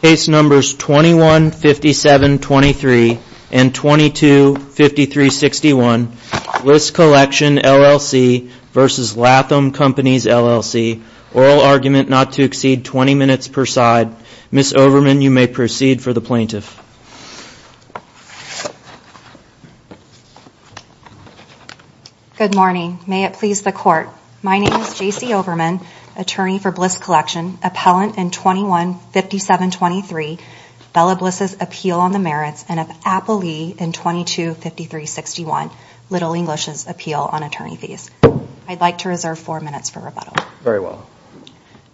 Case numbers 21-57-23 and 22-53-61 Bliss Collection LLC versus Latham Companies LLC. Oral argument not to exceed 20 minutes per side. Ms. Overman you may proceed for the plaintiff. Good morning. May it please the court. My name is JC Overman, attorney for Bliss Collection, appellant in 21-57-23 Bella Bliss's appeal on the merits and of Appley in 22-53-61 Little English's appeal on attorney fees. I'd like to reserve four minutes for rebuttal. Very well.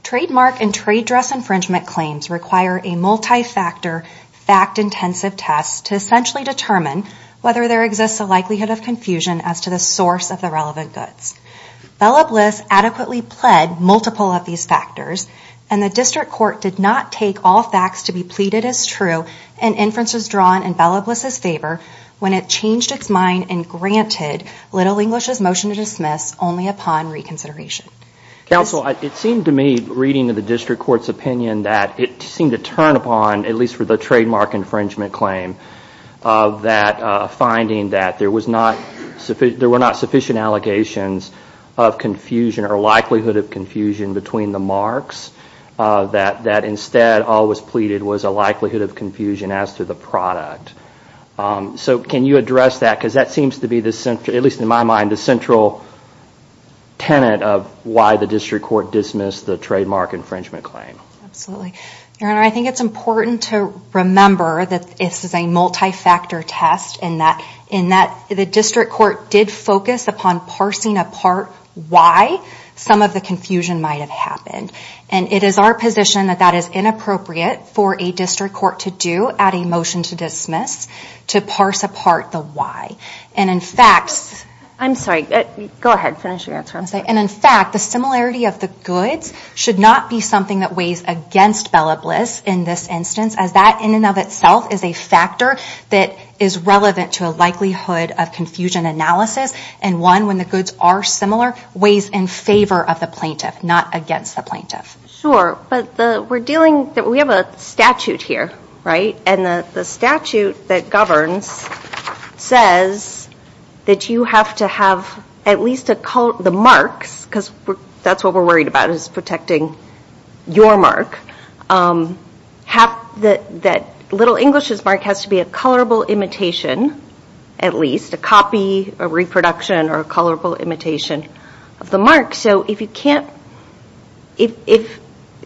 Trademark and trade dress infringement claims require a multi-factor fact-intensive test to essentially determine whether there exists a likelihood of confusion as to the source of the relevant goods. Bella Bliss adequately pled multiple of these factors and the district court did not take all facts to be pleaded as true and inferences drawn in Bella Bliss's favor when it changed its mind and granted Little English's motion to dismiss only upon reconsideration. Counsel, it seemed to me reading to the district court's opinion that it seemed to turn upon at least for the trademark infringement claim of that finding that there was not sufficient allegations of confusion or likelihood of confusion between the marks that instead all was pleaded was a likelihood of confusion as to the product. So can you address that because that seems to be the central, at least in my mind, the central tenet of why the district court dismissed the trademark infringement claim. Absolutely. Your Honor, I think it's important to remember that this is a parsing apart why some of the confusion might have happened and it is our position that that is inappropriate for a district court to do at a motion to dismiss to parse apart the why. And in fact, I'm sorry, go ahead finish your answer. And in fact the similarity of the goods should not be something that weighs against Bella Bliss in this instance as that in and of itself is a analysis and one when the goods are similar weighs in favor of the plaintiff not against the plaintiff. Sure, but the we're dealing that we have a statute here, right, and the statute that governs says that you have to have at least a color, the marks, because that's what we're worried about is protecting your mark, have the that little English's mark has to be a colorable imitation at least, a copy, a reproduction, or a colorable imitation of the mark. So if you can't, if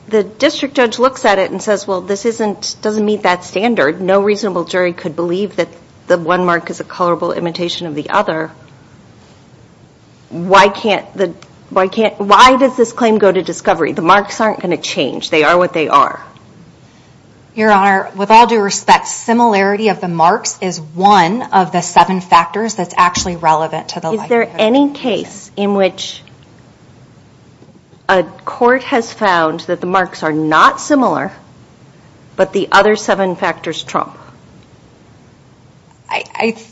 the district judge looks at it and says well this isn't doesn't meet that standard, no reasonable jury could believe that the one mark is a colorable imitation of the other, why can't the, why can't, why does this claim go to discovery? The marks aren't going to change, they are what they are. Your that's actually relevant to the. Is there any case in which a court has found that the marks are not similar but the other seven factors trump? I,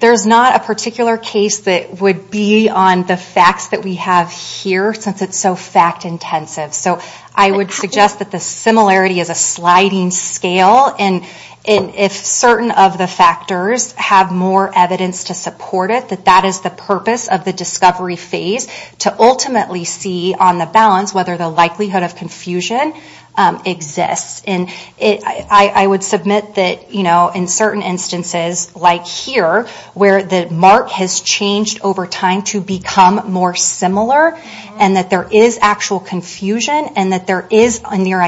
there's not a particular case that would be on the facts that we have here since it's so fact-intensive, so I would suggest that the similarity is a sliding scale and if certain of the factors have more evidence to support it that that is the purpose of the discovery phase to ultimately see on the balance whether the likelihood of confusion exists. And it, I would submit that you know in certain instances like here where the mark has changed over time to become more similar and that there is actual confusion and that there is a near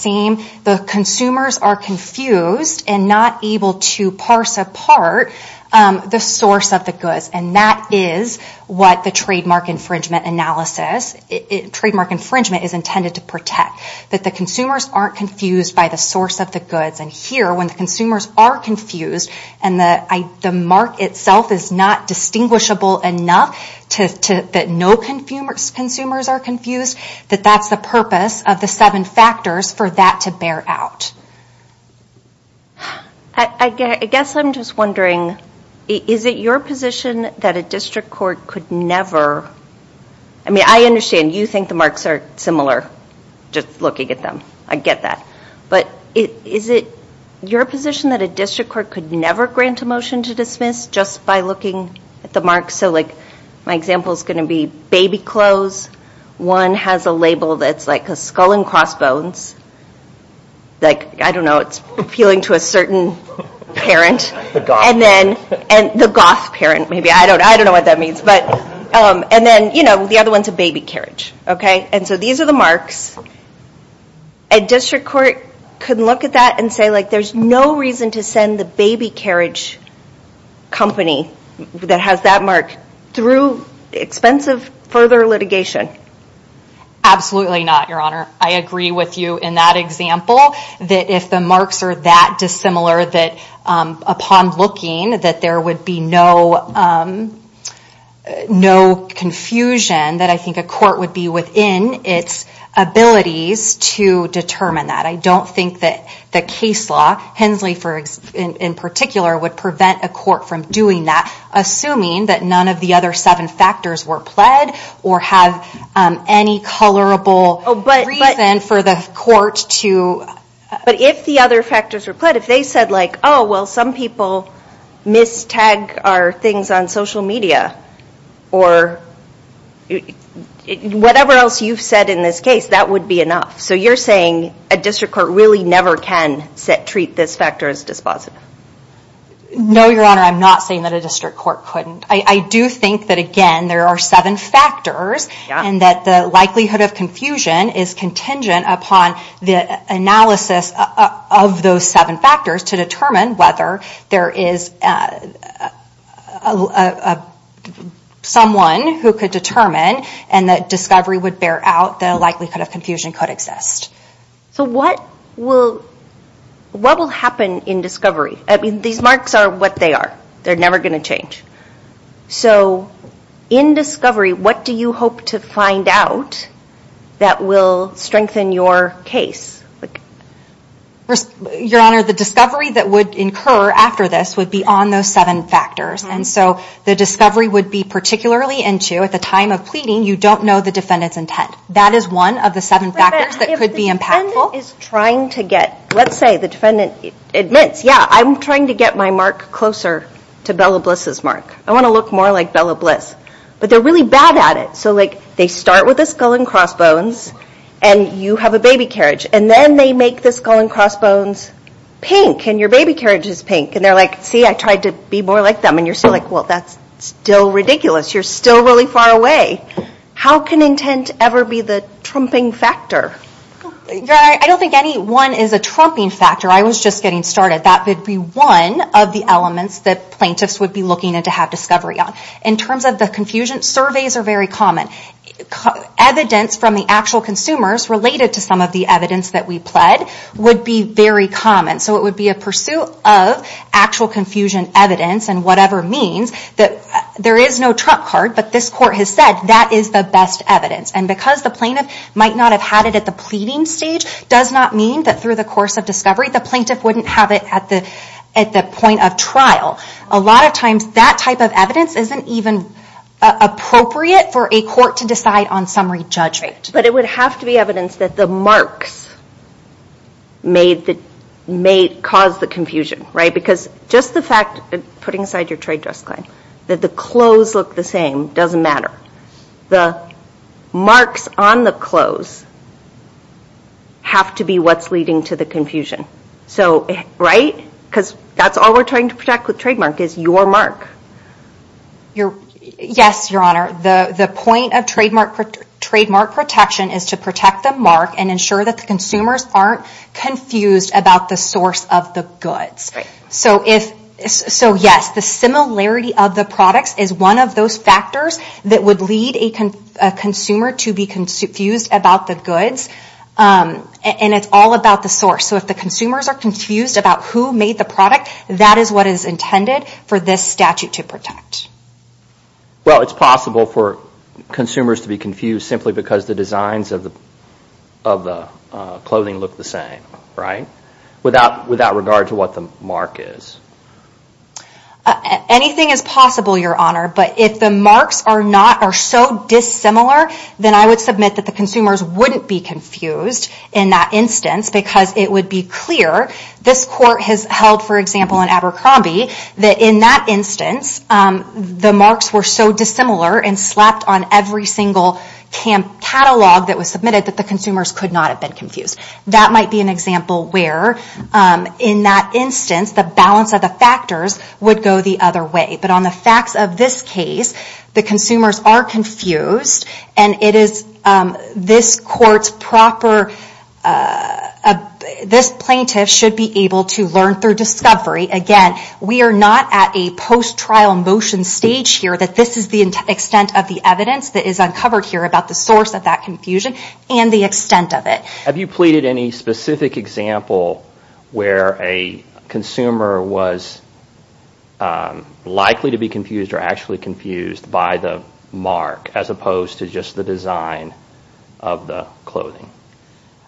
same, the consumers are confused and not able to parse apart the source of the goods and that is what the trademark infringement analysis, trademark infringement is intended to protect. That the consumers aren't confused by the source of the goods and here when the consumers are confused and that I, the mark itself is not distinguishable enough to, that no consumers, consumers are confused that that's the purpose of the seven factors for that to bear out. I guess I'm just wondering is it your position that a district court could never, I mean I understand you think the marks are similar just looking at them, I get that, but is it your position that a district court could never grant a motion to dismiss just by looking at the mark? So like my example is going to be baby clothes, one has a label that's like a skull and crossbones, like I don't know it's appealing to a certain parent and then, and the goth parent maybe, I don't, I don't know what that means, but and then you know the other one's a baby carriage, okay? And so these are the marks. A district court could look at that and say like there's no reason to send the baby carriage company that has that mark through expensive further litigation. Absolutely not, Your Honor. I agree with you in that example that if the marks are that dissimilar that upon looking that there would be no, no confusion that I think a court would be within its abilities to determine that. I don't think that the case law, Hensley for example, in particular would prevent a court from doing that assuming that none of the other seven factors were pled or have any colorable reason for the court to... But if the other factors were pled, if they said like, oh well some people mistag our things on social media or whatever else you've said in this case, that would be enough. So you're saying a district court really never can treat this factor as dispositive? No, Your Honor. I'm not saying that a district court couldn't. I do think that again there are seven factors and that the likelihood of confusion is contingent upon the analysis of those seven factors to determine whether there is someone who could determine and that discovery would bear out the likelihood of confusion could exist. So what will happen in discovery? I mean these marks are what they are. They're never going to change. So in discovery what do you hope to find out that will strengthen your case? Your Honor, the discovery that would incur after this would be on those seven factors and so the discovery would be particularly into at the time of pleading you don't know the defendant's intent. That is one of the seven factors that could be impactful. If the defendant is trying to get, let's say the defendant admits, yeah I'm trying to get my mark closer to Bella Bliss's mark. I want to look more like Bella Bliss. But they're really bad at it. So like they start with a skull and crossbones and you have a baby carriage and then they make the skull and crossbones pink and your baby carriage is pink and they're like, see I tried to be more like them and you're still like, well that's still ridiculous. You're still really far away. How can intent ever be the trumping factor? Your Honor, I don't think any one is a trumping factor. I was just getting started. That would be one of the elements that plaintiffs would be looking to have discovery on. In terms of the confusion, surveys are very common. Evidence from the actual consumers related to some of the evidence that we pled would be very common. So it would be a pursuit of actual confusion evidence and whatever means that there is no trump card, but this court has said that is the best evidence. And because the plaintiff might not have had it at the pleading stage does not mean that through the course of discovery the plaintiff wouldn't have it at the point of trial. A lot of times that type of evidence isn't even appropriate for a court to decide on summary judgment. But it would have to be evidence that the marks may cause the confusion, right? Because just the fact, putting aside your trade dress claim, that the clothes look the same doesn't matter. The marks on the clothes have to be what's leading to the confusion, right? Because that's all we're trying to protect with trademark is your mark. Yes, Your Honor. The point of trademark protection is to protect the mark and ensure that the consumers aren't confused about the source of the product. The similarity of the products is one of those factors that would lead a consumer to be confused about the goods. And it's all about the source. So if the consumers are confused about who made the product, that is what is intended for this statute to protect. Well, it's possible for consumers to be confused simply because the designs of the clothing look the same, right? Without regard to what the mark is. Anything is possible, Your Honor. But if the marks are so dissimilar, then I would submit that the consumers wouldn't be confused in that instance because it would be clear. This court has held, for example, in Abercrombie that in that instance the marks were so dissimilar and slapped on every single catalog that was submitted that the in that instance the balance of the factors would go the other way. But on the facts of this case, the consumers are confused and it is this court's proper... this plaintiff should be able to learn through discovery. Again, we are not at a post-trial motion stage here that this is the extent of the evidence that is uncovered here about the source of that confusion and the extent of it. Have you completed any specific example where a consumer was likely to be confused or actually confused by the mark as opposed to just the design of the clothing?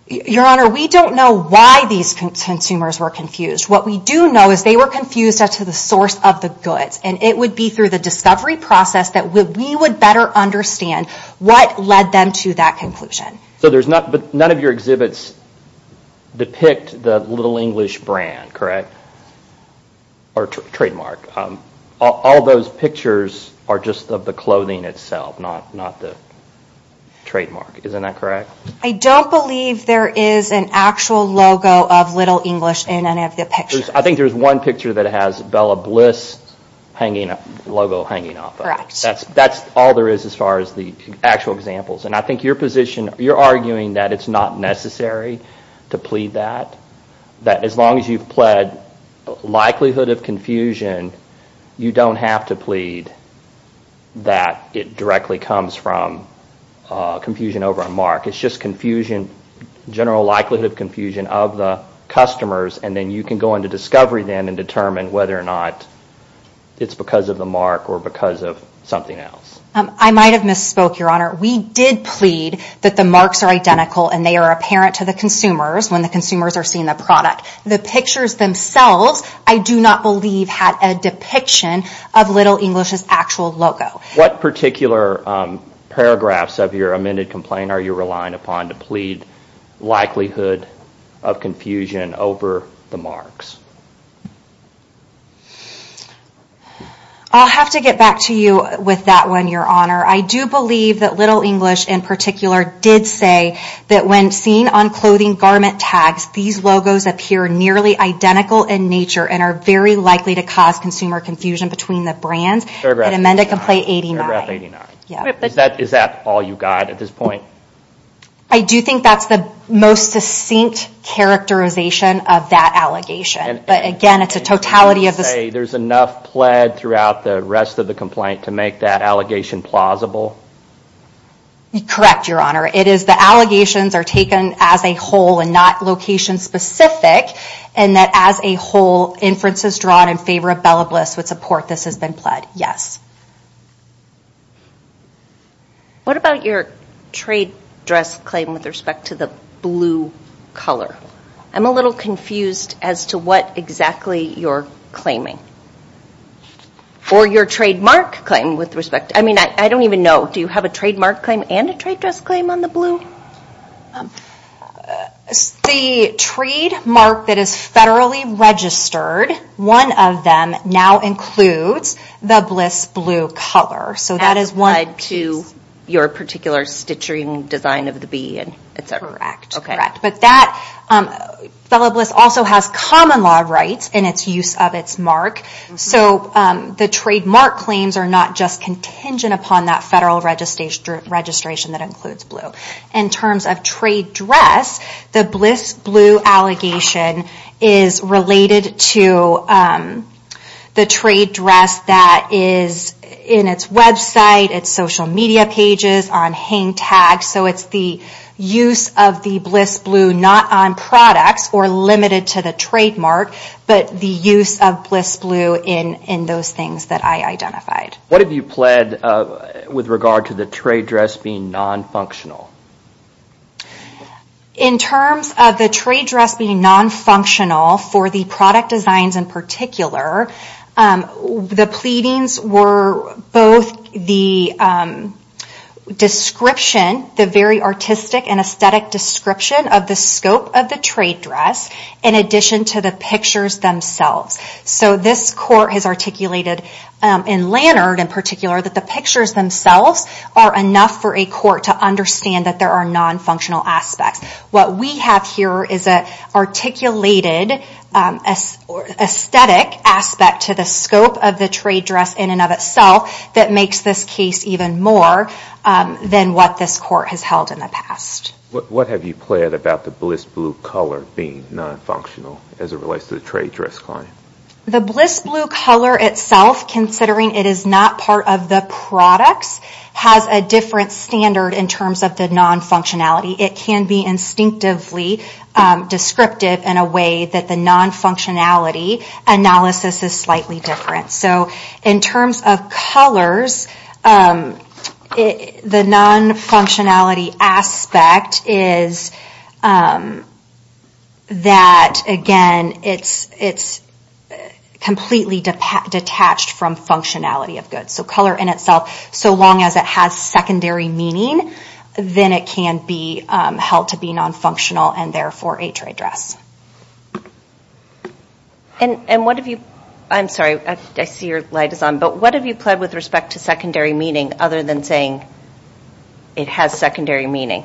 Your Honor, we don't know why these consumers were confused. What we do know is they were confused as to the source of the goods and it would be through the discovery process that we would better understand what led them to that I don't believe there is an actual logo of Little English in any of the pictures. I think there is one picture that has Bella Bliss logo hanging off of it. That's all there is as far as the actual examples and I think your position, you're arguing that it's not necessary to plead that. That as long as you've pled likelihood of confusion, you don't have to plead that it directly comes from confusion over a mark. It's just confusion, general likelihood of confusion of the customers and then you can go into discovery then and determine whether or not it's because of the mark or because of something else. I might have misspoke, your Honor. We did plead that the marks are identical and they are apparent to the consumers when the consumers are seeing the product. The pictures themselves I do not believe had a depiction of Little English's actual logo. What particular paragraphs of your amended complaint are you relying upon to plead likelihood of confusion over the marks? I'll have to get back to you with that one, your Honor. I do believe that Little English in particular did say that when seen on clothing garment tags, these logos appear nearly identical in nature and are very likely to cause consumer confusion between the brands in Amendment Complaint 89. Is that all you got at this point? I do think that's the most succinct characterization of that allegation. But again, it's a make that allegation plausible? Correct, your Honor. It is the allegations are taken as a whole and not location specific and that as a whole inferences drawn in favor of Bella Bliss would support this has been pled. Yes. What about your trade dress claim with respect to the blue color? I'm a little I don't even know. Do you have a trademark claim and a trade dress claim on the blue? The trademark that is federally registered, one of them now includes the Bliss blue color. So that is one to your particular stitching design of the bead? Correct. But Bella Bliss also has common law rights in its use of its mark. So the trademark claims are not just contingent upon that federal registration that includes blue. In terms of trade dress, the Bliss blue allegation is related to the trade dress that is in its website, its social media pages, on hang tags. So it's the use of the Bliss blue not on products or limited to the trademark, but the use of Bliss blue in those things that I identified. What have you pled with regard to the trade dress being non-functional? In terms of the trade dress being non-functional for the product designs in particular, the pleadings were both the description, the very artistic and aesthetic description of the scope of the trade dress in addition to the pictures themselves. So this court has articulated in Lanard in particular that the pictures themselves are enough for a court to understand that there are non-functional aspects. What we have here is an articulated aesthetic aspect to the scope of the trade dress in and of itself that makes this case even more than what this court has held in the past. What have you pled about the Bliss blue color being non-functional as it relates to the trade dress claim? The Bliss blue color itself, considering it is not part of the products, has a different standard in terms of the non-functionality. It can be instinctively descriptive in a way that the non-functionality analysis is the non-functionality aspect is that again it's completely detached from functionality of goods. So color in itself, so long as it has secondary meaning, then it can be held to be non-functional and therefore a trade dress. And what have you, I'm sorry I see your light is on, but what have you said about the non-functionality aspect to secondary meaning other than saying it has secondary meaning?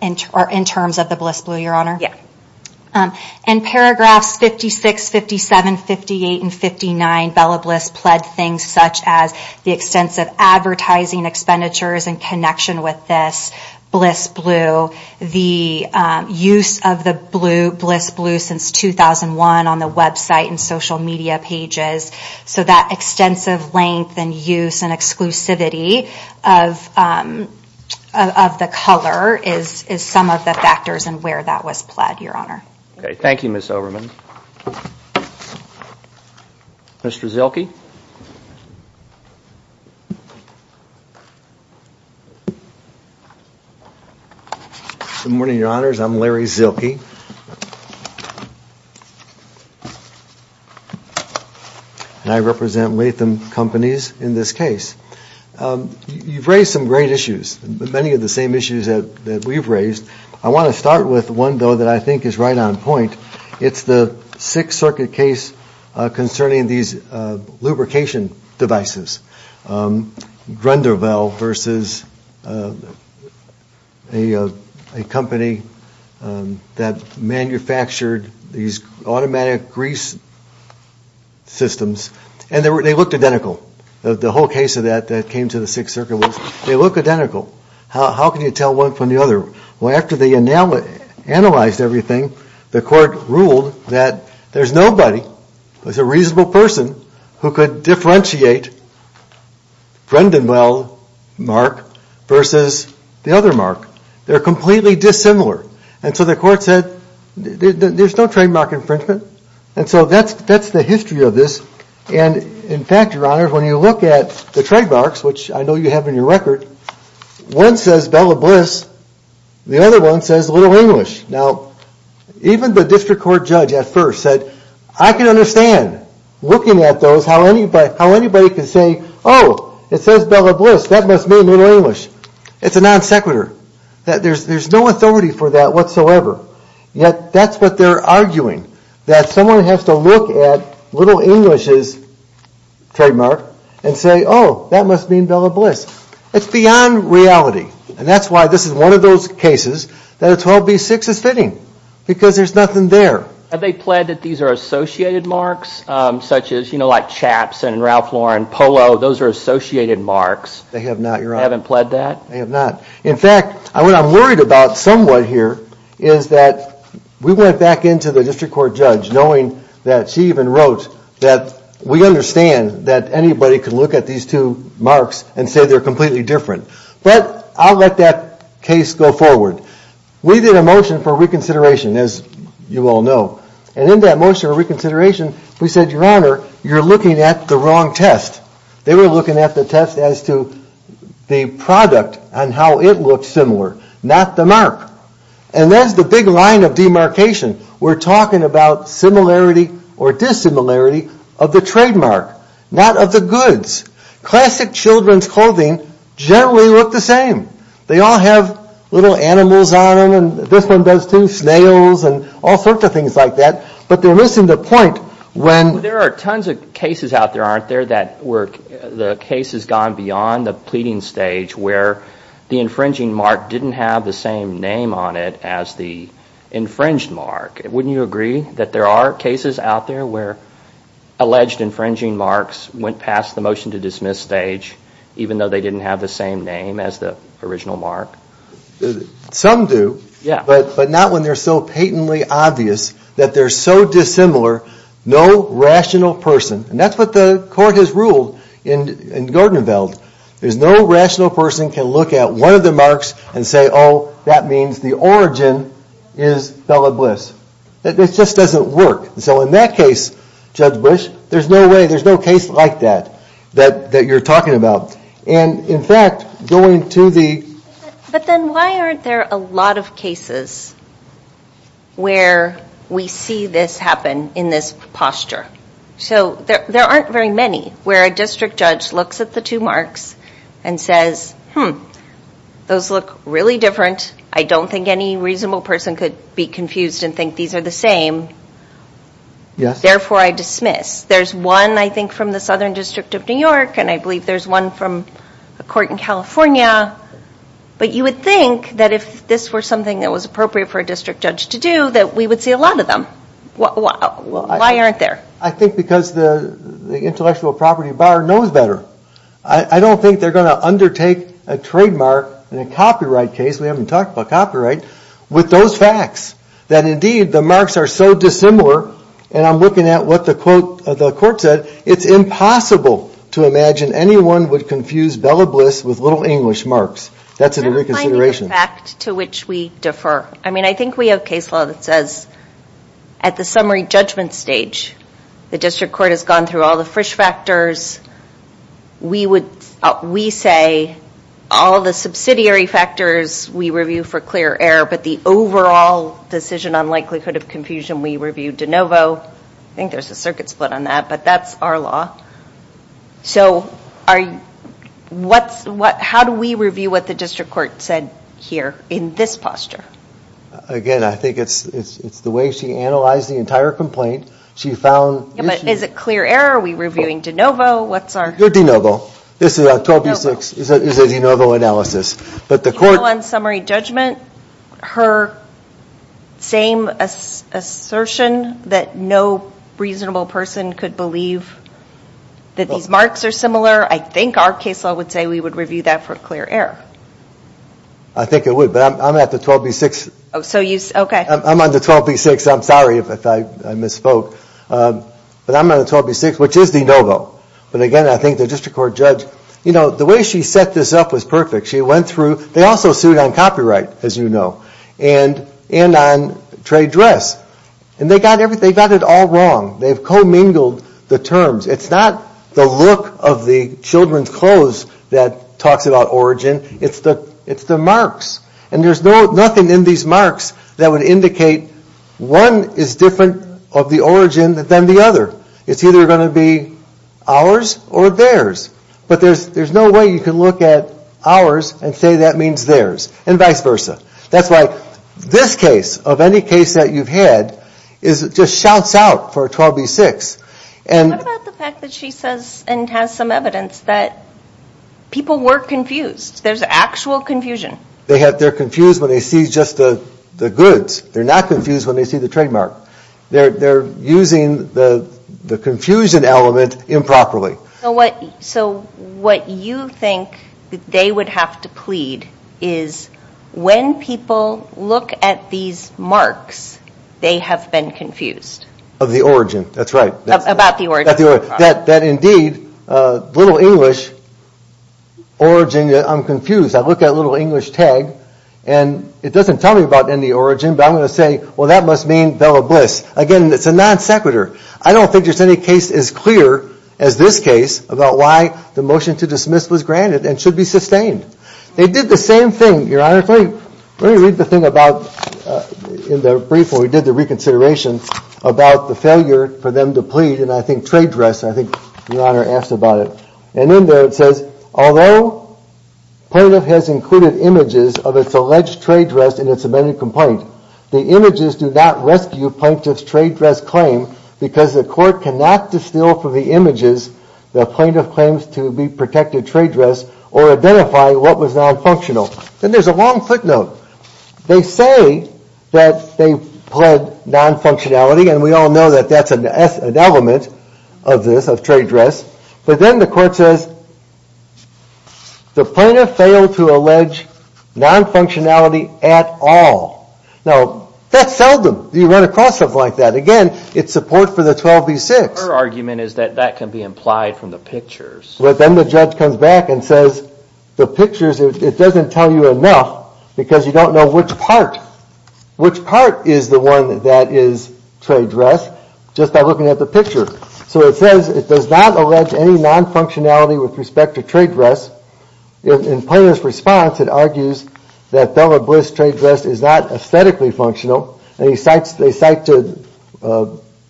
In terms of the Bliss blue, your honor? Yeah. In paragraphs 56, 57, 58, and 59, Bella Bliss pled things such as the extensive advertising expenditures in connection with this Bliss blue, the use of the use and exclusivity of the color is some of the factors and where that was pled, your honor. Okay, thank you Ms. Overman. Mr. Zilkey? Good morning, your honors. I'm Larry Zilkey and I represent Latham companies in this case. You've raised some great issues, many of the same issues that we've raised. I want to start with one though that I think is right on point. It's the Sixth Circuit case concerning these lubrication devices. Grunderville versus a company that manufactured these automatic grease systems and they looked identical. The whole case of that that came to the Sixth Circuit was they look identical. How can you tell one from the other? Well after they analyzed everything, the court ruled that there's nobody, there's a reasonable person, who could differentiate Grunderville mark versus the other mark. They're completely dissimilar. And so the court said there's no trademark infringement. And so that's the history of this. And in fact, your honor, when you look at the trademarks, which I know you have in your record, one says Bella Bliss, the other one says Little English. Now even the district court judge at first said, I can understand looking at those how anybody can say, oh it says Bella Bliss, that must mean Little English. It's a non sequitur. There's no authority for that whatsoever. Yet that's what they're arguing. That someone has to look at Little English's trademark and say, oh that must mean Bella Bliss. It's beyond reality. And that's why this is one of those cases that a 12B6 is fitting. Because there's nothing there. Have they pled that these are associated marks? Such as, you know, like Chaps and Ralph Lauren Polo, those are associated marks. They have not, your honor. They haven't pled that? They have not. In fact, what I'm worried about somewhat here is that we went back into the district court judge knowing that she even wrote that we understand that anybody can look at these two marks and say they're completely different. But I'll let that case go forward. We did a motion for reconsideration, as you all know. And in that motion for reconsideration, we said, your honor, you're looking at the wrong test. They were looking at the test as to the product and how it looks similar, not the mark. And there's the big line of demarcation. We're talking about similarity or dissimilarity of the trademark, not of the goods. Classic children's clothing generally look the same. They all have little animals on them, and this one does too, snails and all sorts of things like that. But they're missing the point when... There are tons of cases out there, aren't there, that where the case has gone beyond the pleading stage where the infringing mark didn't have the same name on it as the infringed mark. Wouldn't you agree that there are cases out there where alleged infringing marks went past the motion to dismiss stage, even though they didn't have the same name as the original mark? Some do, but not when they're so certain. And that's what the court has ruled in Gordonville. There's no rational person can look at one of the marks and say, oh, that means the origin is Bella Bliss. That just doesn't work. So in that case, Judge Bush, there's no way, there's no case like that that you're talking about. And in fact, going to the... But then why aren't there a lot of cases where we see this happen in this posture? So there aren't very many where a district judge looks at the two marks and says, hmm, those look really different. I don't think any reasonable person could be confused and think these are the same. Therefore, I dismiss. There's one, I think, from the Southern District of New York, and I believe there's one from a court in California. But you would think that if this were something that was appropriate for a district judge to do, that we would see a lot of them. Why aren't there? I think because the intellectual property bar knows better. I don't think they're going to undertake a trademark in a copyright case, we haven't talked about copyright, with those facts. That indeed, the marks are so dissimilar, and I'm looking at what the court said, it's impossible to imagine anyone would confuse Bella Bliss with little English marks. That's a reconsideration. To which we defer. I mean, I think we have case law that says at the judge, the district court has gone through all the Frisch factors. We say all the subsidiary factors we review for clear error, but the overall decision on likelihood of confusion we review de novo. I think there's a circuit split on that, but that's our law. So, how do we review what the district court said here in this posture? Again, I think it's the way she analyzed the entire complaint. She found... Is it clear error? Are we reviewing de novo? De novo. This is a 12B6, it's a de novo analysis, but the court... On summary judgment, her same assertion that no reasonable person could believe that these marks are similar, I think our case law would say we would review that for clear error. I think it would, but I'm at the 12B6. Oh, so you... Okay. I'm on the 12B6. I misspoke. But I'm on the 12B6, which is de novo. But again, I think the district court judge... You know, the way she set this up was perfect. She went through... They also sued on copyright, as you know, and on trade dress. And they got it all wrong. They've co-mingled the terms. It's not the look of the children's clothes that talks about origin, it's the marks. And there's nothing in these marks that would indicate one is different of the origin than the other. It's either going to be ours or theirs. But there's no way you can look at ours and say that means theirs, and vice versa. That's why this case, of any case that you've had, just shouts out for a 12B6. And... What about the fact that she says, and has some evidence, that people were confused? There's actual confusion. They're confused when they see just the trademark. They're using the confusion element improperly. So what you think they would have to plead is, when people look at these marks, they have been confused. Of the origin, that's right. About the origin. That indeed, little English origin... I'm confused. I look at a little English tag, and it doesn't tell me about any origin. But I'm going to say, well that must mean Bella Bliss. Again, it's a non sequitur. I don't think there's any case as clear as this case about why the motion to dismiss was granted and should be sustained. They did the same thing, Your Honor. Let me read the thing about, in the brief when we did the reconsideration, about the failure for them to plead, and I think trade dress, I think Your Honor asked about it. And in there it says, although plaintiff has included images of its alleged trade dress in its amended complaint, the images do not rescue plaintiff's trade dress claim because the court cannot distill from the images the plaintiff claims to be protected trade dress or identify what was non-functional. Then there's a long footnote. They say that they pled non-functionality, and we all know that that's an element of this, of trade at all. Now, that's seldom you run across something like that. Again, it's support for the 12b-6. Her argument is that that can be implied from the pictures. But then the judge comes back and says, the pictures, it doesn't tell you enough because you don't know which part, which part is the one that is trade dress just by looking at the picture. So it says it does not allege any non-functionality with respect to trade dress. In plaintiff's response, it argues that Della Bliss trade dress is not aesthetically functional. They cite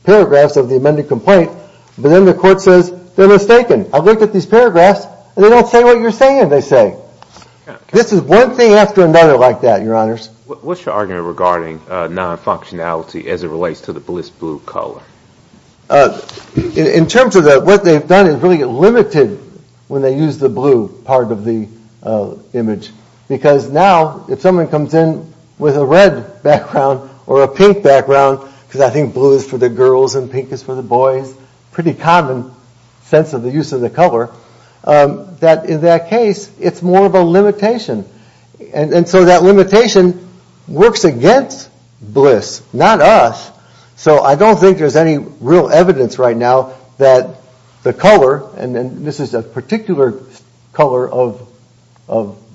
paragraphs of the amended complaint, but then the court says they're mistaken. I look at these paragraphs, and they don't say what you're saying they say. This is one thing after another like that, Your Honors. What's your argument regarding non-functionality as it relates to the Bliss blue color? In terms of that, what they've done is really limited when they use the blue part of the image. Because now, if someone comes in with a red background or a pink background, because I think blue is for the girls and pink is for the boys, pretty common sense of the use of the color, that in that case it's more of a limitation. And so that limitation works against Bliss, not us. So I don't think there's any real evidence right now that the color, and then this is a particular color of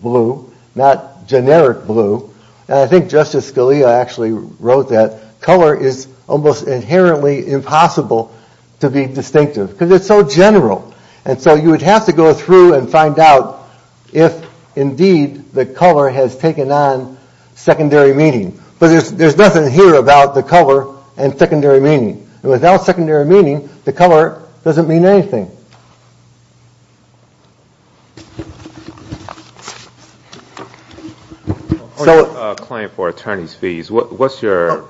blue, not generic blue, and I think Justice Scalia actually wrote that color is almost inherently impossible to be distinctive because it's so general. And so you would have to go through and find out if indeed the color has taken on secondary meaning. But there's nothing here about the color and secondary meaning. The color doesn't mean anything. So a claim for attorney's fees, what's your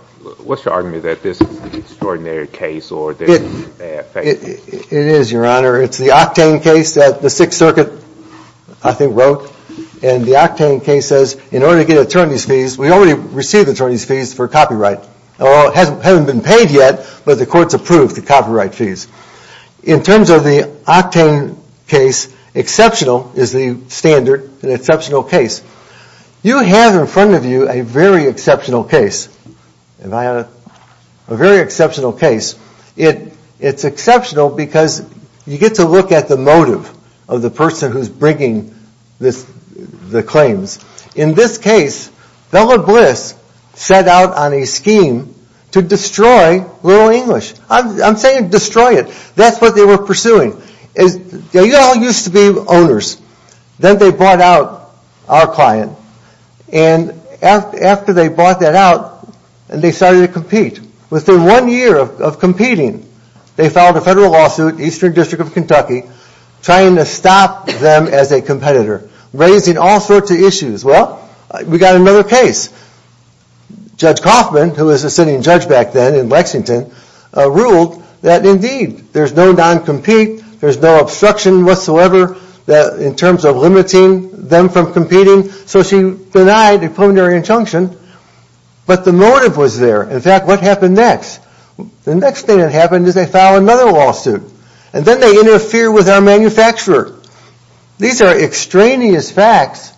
argument that this is an extraordinary case or that it's a bad case? It is, Your Honor. It's the Octane case that the Sixth Circuit, I think, wrote. And the Octane case says in order to get attorney's fees, we already received attorney's fees for copyright. Although it was approved, the copyright fees. In terms of the Octane case, exceptional is the standard, an exceptional case. You have in front of you a very exceptional case, a very exceptional case. It's exceptional because you get to look at the motive of the person who's bringing the claims. In this case, Bella Bliss set out on a scheme to destroy Little English. I'm saying destroy it. That's what they were pursuing. You all used to be owners. Then they bought out our client. And after they bought that out, they started to compete. Within one year of competing, they filed a federal lawsuit, Eastern District of Kentucky, trying to stop them as a case. Judge Coffman, who was a sitting judge back then in Lexington, ruled that indeed there's no non-compete, there's no obstruction whatsoever in terms of limiting them from competing. So she denied a preliminary injunction. But the motive was there. In fact, what happened next? The next thing that happened is they filed another lawsuit. And then they interfere with our manufacturer. These are extraneous facts,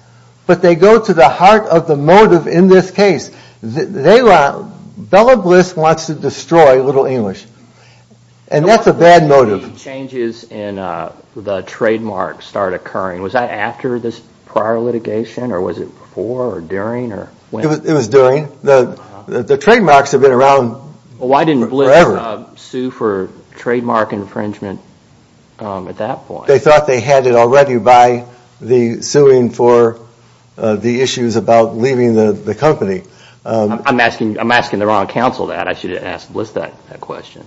but they go to the heart of the motive in this case. Bella Bliss wants to destroy Little English. And that's a bad motive. When did the changes in the trademark start occurring? Was that after this prior litigation or was it before or during? It was during. The trademarks have been around forever. Why didn't Bliss sue for trademark infringement at that point? They thought they had it already by the suing for the issues about leaving the company. I'm asking the wrong counsel that. I should have asked Bliss that question.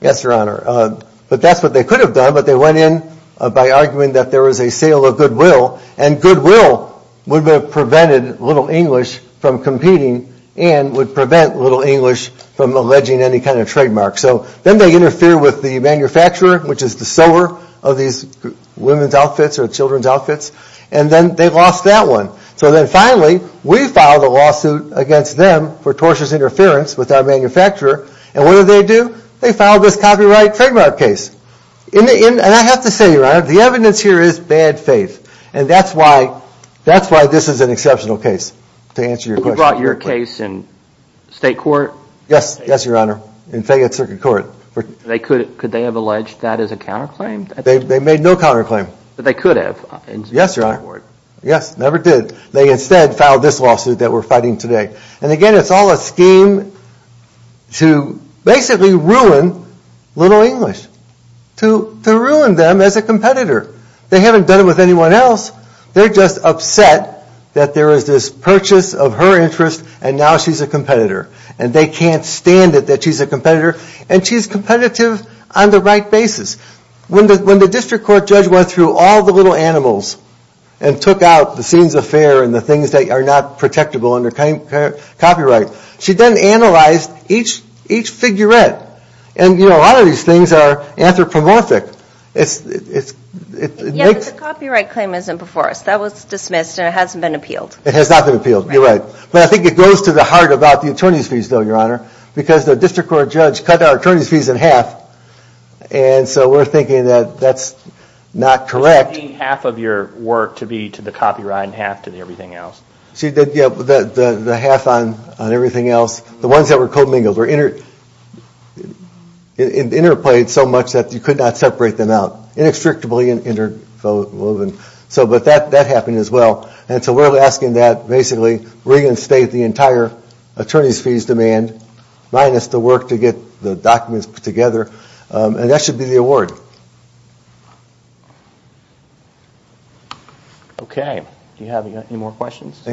Yes, Your Honor. But that's what they could have done. But they went in by arguing that there was a sale of goodwill. And goodwill would have prevented Little English from competing and would prevent Little English from alleging any kind of trademark. So then they interfere with the manufacturer, which is the sower of these women's outfits or children's outfits. And then they lost that one. So then finally we filed a lawsuit against them for tortious interference with our manufacturer. And what did they do? They filed this copyright trademark case. And I have to say, Your Honor, the evidence here is bad faith. And that's why this is an exceptional case, to answer your question. You brought your case in state court? Yes, Your Honor, in Fayette Circuit Court. Could they have alleged that as a counterclaim? They made no counterclaim. But they could have. Yes, Your Honor. Yes, never did. They instead filed this lawsuit that we're fighting today. And again, it's all a scheme to basically ruin Little English. To ruin them as a competitor. They haven't done it with anyone else. They're just upset that there is this purchase of her interest and now she's a competitor. And they can't stand it that she's a competitor on the right basis. When the district court judge went through all the little animals and took out the scenes of fare and the things that are not protectable under copyright, she then analyzed each figurette. And a lot of these things are anthropomorphic. Yes, but the copyright claim isn't before us. That was dismissed and it hasn't been appealed. It has not been appealed, you're right. But I think it goes to the heart about the attorney's fees though, Your Honor. We cut our attorney's fees in half. And so we're thinking that that's not correct. You're cutting half of your work to be to the copyright and half to everything else? The half on everything else. The ones that were co-mingled were interplayed so much that you could not separate them out. Inextricably interwoven. But that happened as well. And so we're asking that basically reinstate the entire fees demand minus the work to get the documents put together. And that should be the award. Okay, do you have any more questions?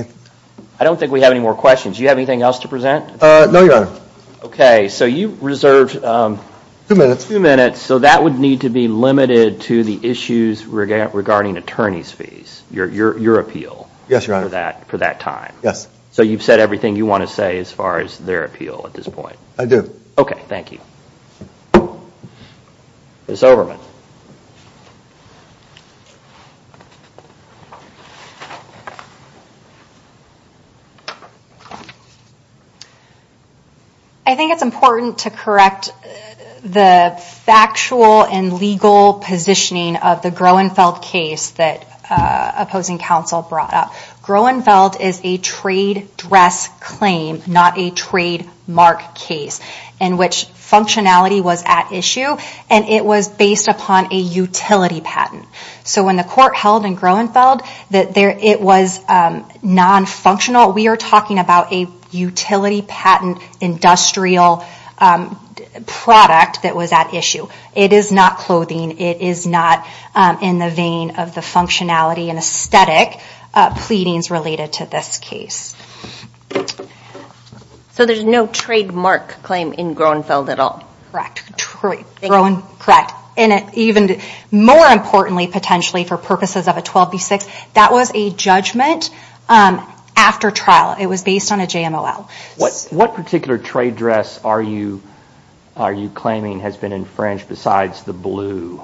I don't think we have any more questions. Do you have anything else to present? No, Your Honor. Okay, so you reserved two minutes. So that would need to be limited to the issues regarding attorney's fees. Your appeal for that time. Yes, Your Honor. So you've said everything you want to say as far as their appeal at this point. I do. Okay, thank you. Ms. Overman. I think it's important to correct the factual and legal positioning of the Groenfeld case that opposing counsel brought up. Groenfeld is a trade dress claim, not a trademark case, in which functionality was at issue and it was based upon a utility patent. So when the court held in Groenfeld, it was non-functional. We are talking about a utility patent industrial product that was at issue. It is not clothing. It is not in the vein of the functionality and aesthetic pleadings related to this case. So there is no trademark claim in Groenfeld at all? Correct. And even more importantly potentially for purposes of a 12B6, that was a judgment after trial. It was based on a JMOL. What particular trade dress are you claiming has been infringed besides the blue?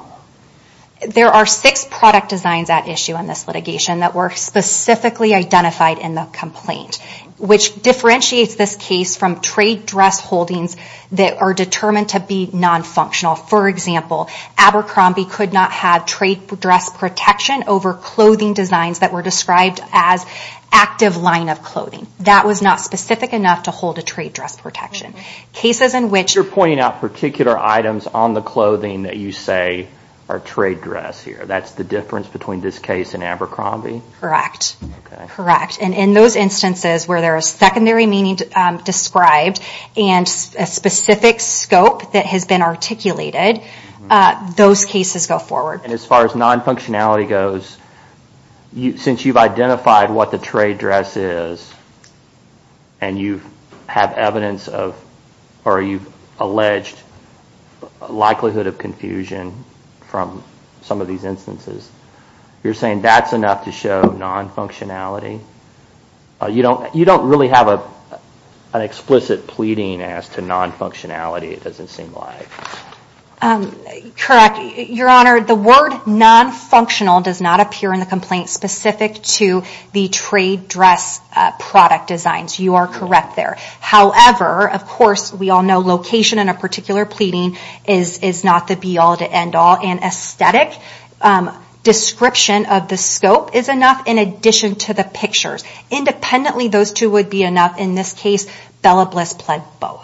There are six product designs at issue in this litigation that were specifically identified in the complaint, which differentiates this case from trade dress holdings that are determined to be non-functional. For example, Abercrombie could not have trade dress protection over clothing designs that were described as active line of clothing. That was not specific enough to hold a trade dress protection. Cases in which... on the clothing that you say are trade dress here, that is the difference between this case and Abercrombie? Correct. Correct. And in those instances where there is secondary meaning described and a specific scope that has been articulated, those cases go forward. And as far as non-functionality goes, since you have identified what the trade dress is and you have evidence of, or you've alleged likelihood of confusion from some of these instances, you're saying that's enough to show non-functionality? You don't really have an explicit pleading as to non-functionality, it doesn't seem like. Correct. Your Honor, the word non-functional does not appear in the complaint specific to the trade dress product designs. You are correct there. However, of course, we all know location in a particular pleading is not the be-all to end-all, and aesthetic description of the scope is enough in addition to the pictures. Independently, those two would be enough. In this case, Bella Bliss pled both.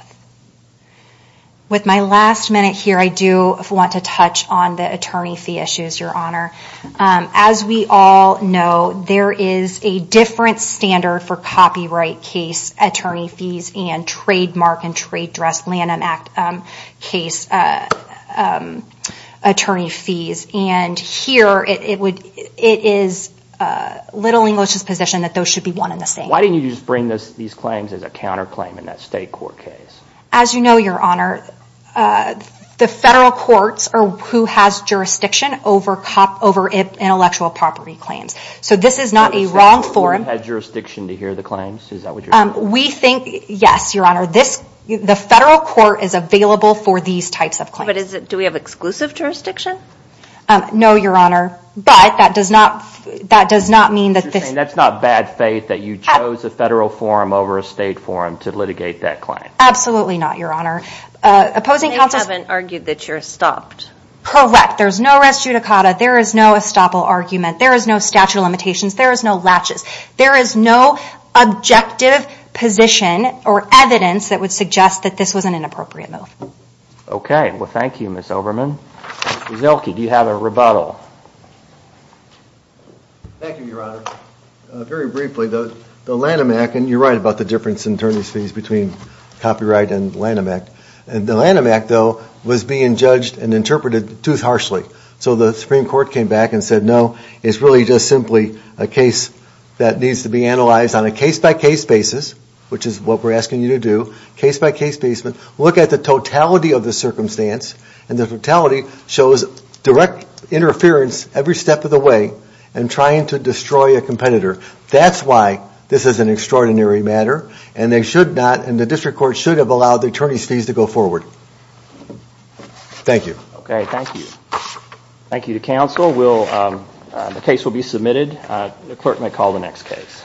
With my last minute here, I do want to touch on the attorney fee issues, Your Honor. As we all know, there is a different standard for copyright case attorney fees and trademark and trade dress Lanham Act case attorney fees. And here, it is Little English's position that those should be one and the same. Why didn't you just bring these claims as a counterclaim in that state court case? As you know, Your Honor, the federal courts are who has jurisdiction over intellectual property claims. So this is not a wrong forum. You had jurisdiction to hear the claims? Is that what you're saying? Yes, Your Honor. The federal court is available for these types of claims. But do we have exclusive jurisdiction? No, Your Honor. But that does not mean that this... You're saying that's not bad faith that you chose a federal forum over a state forum to litigate that claim? Absolutely not, Your Honor. They haven't argued that you're stopped. Correct. There's no res judicata. There is no estoppel argument. There is no statute of limitations. There is no latches. There is no objective position or evidence that would suggest that this was an inappropriate move. Okay. Well, thank you, Ms. Overman. Mr. Zilkey, do you have a rebuttal? Thank you, Your Honor. Very briefly, the Lanham Act, and you're right about the difference in attorney's fees between copyright and Lanham Act. The Lanham Act, though, was being judged and interpreted too harshly. So the Supreme Court came back and said, no, it's really just simply a case that needs to be analyzed on a case-by-case basis, which is what we're asking you to do, case-by-case basis. Look at the totality of the circumstance, and the totality shows direct interference every step of the way in trying to destroy a competitor. That's why this is an extraordinary matter, and they should not, and the district court should have allowed the attorney's fees to go forward. Thank you. Okay, thank you. Thank you to counsel. The case will be submitted. The clerk may call the next case.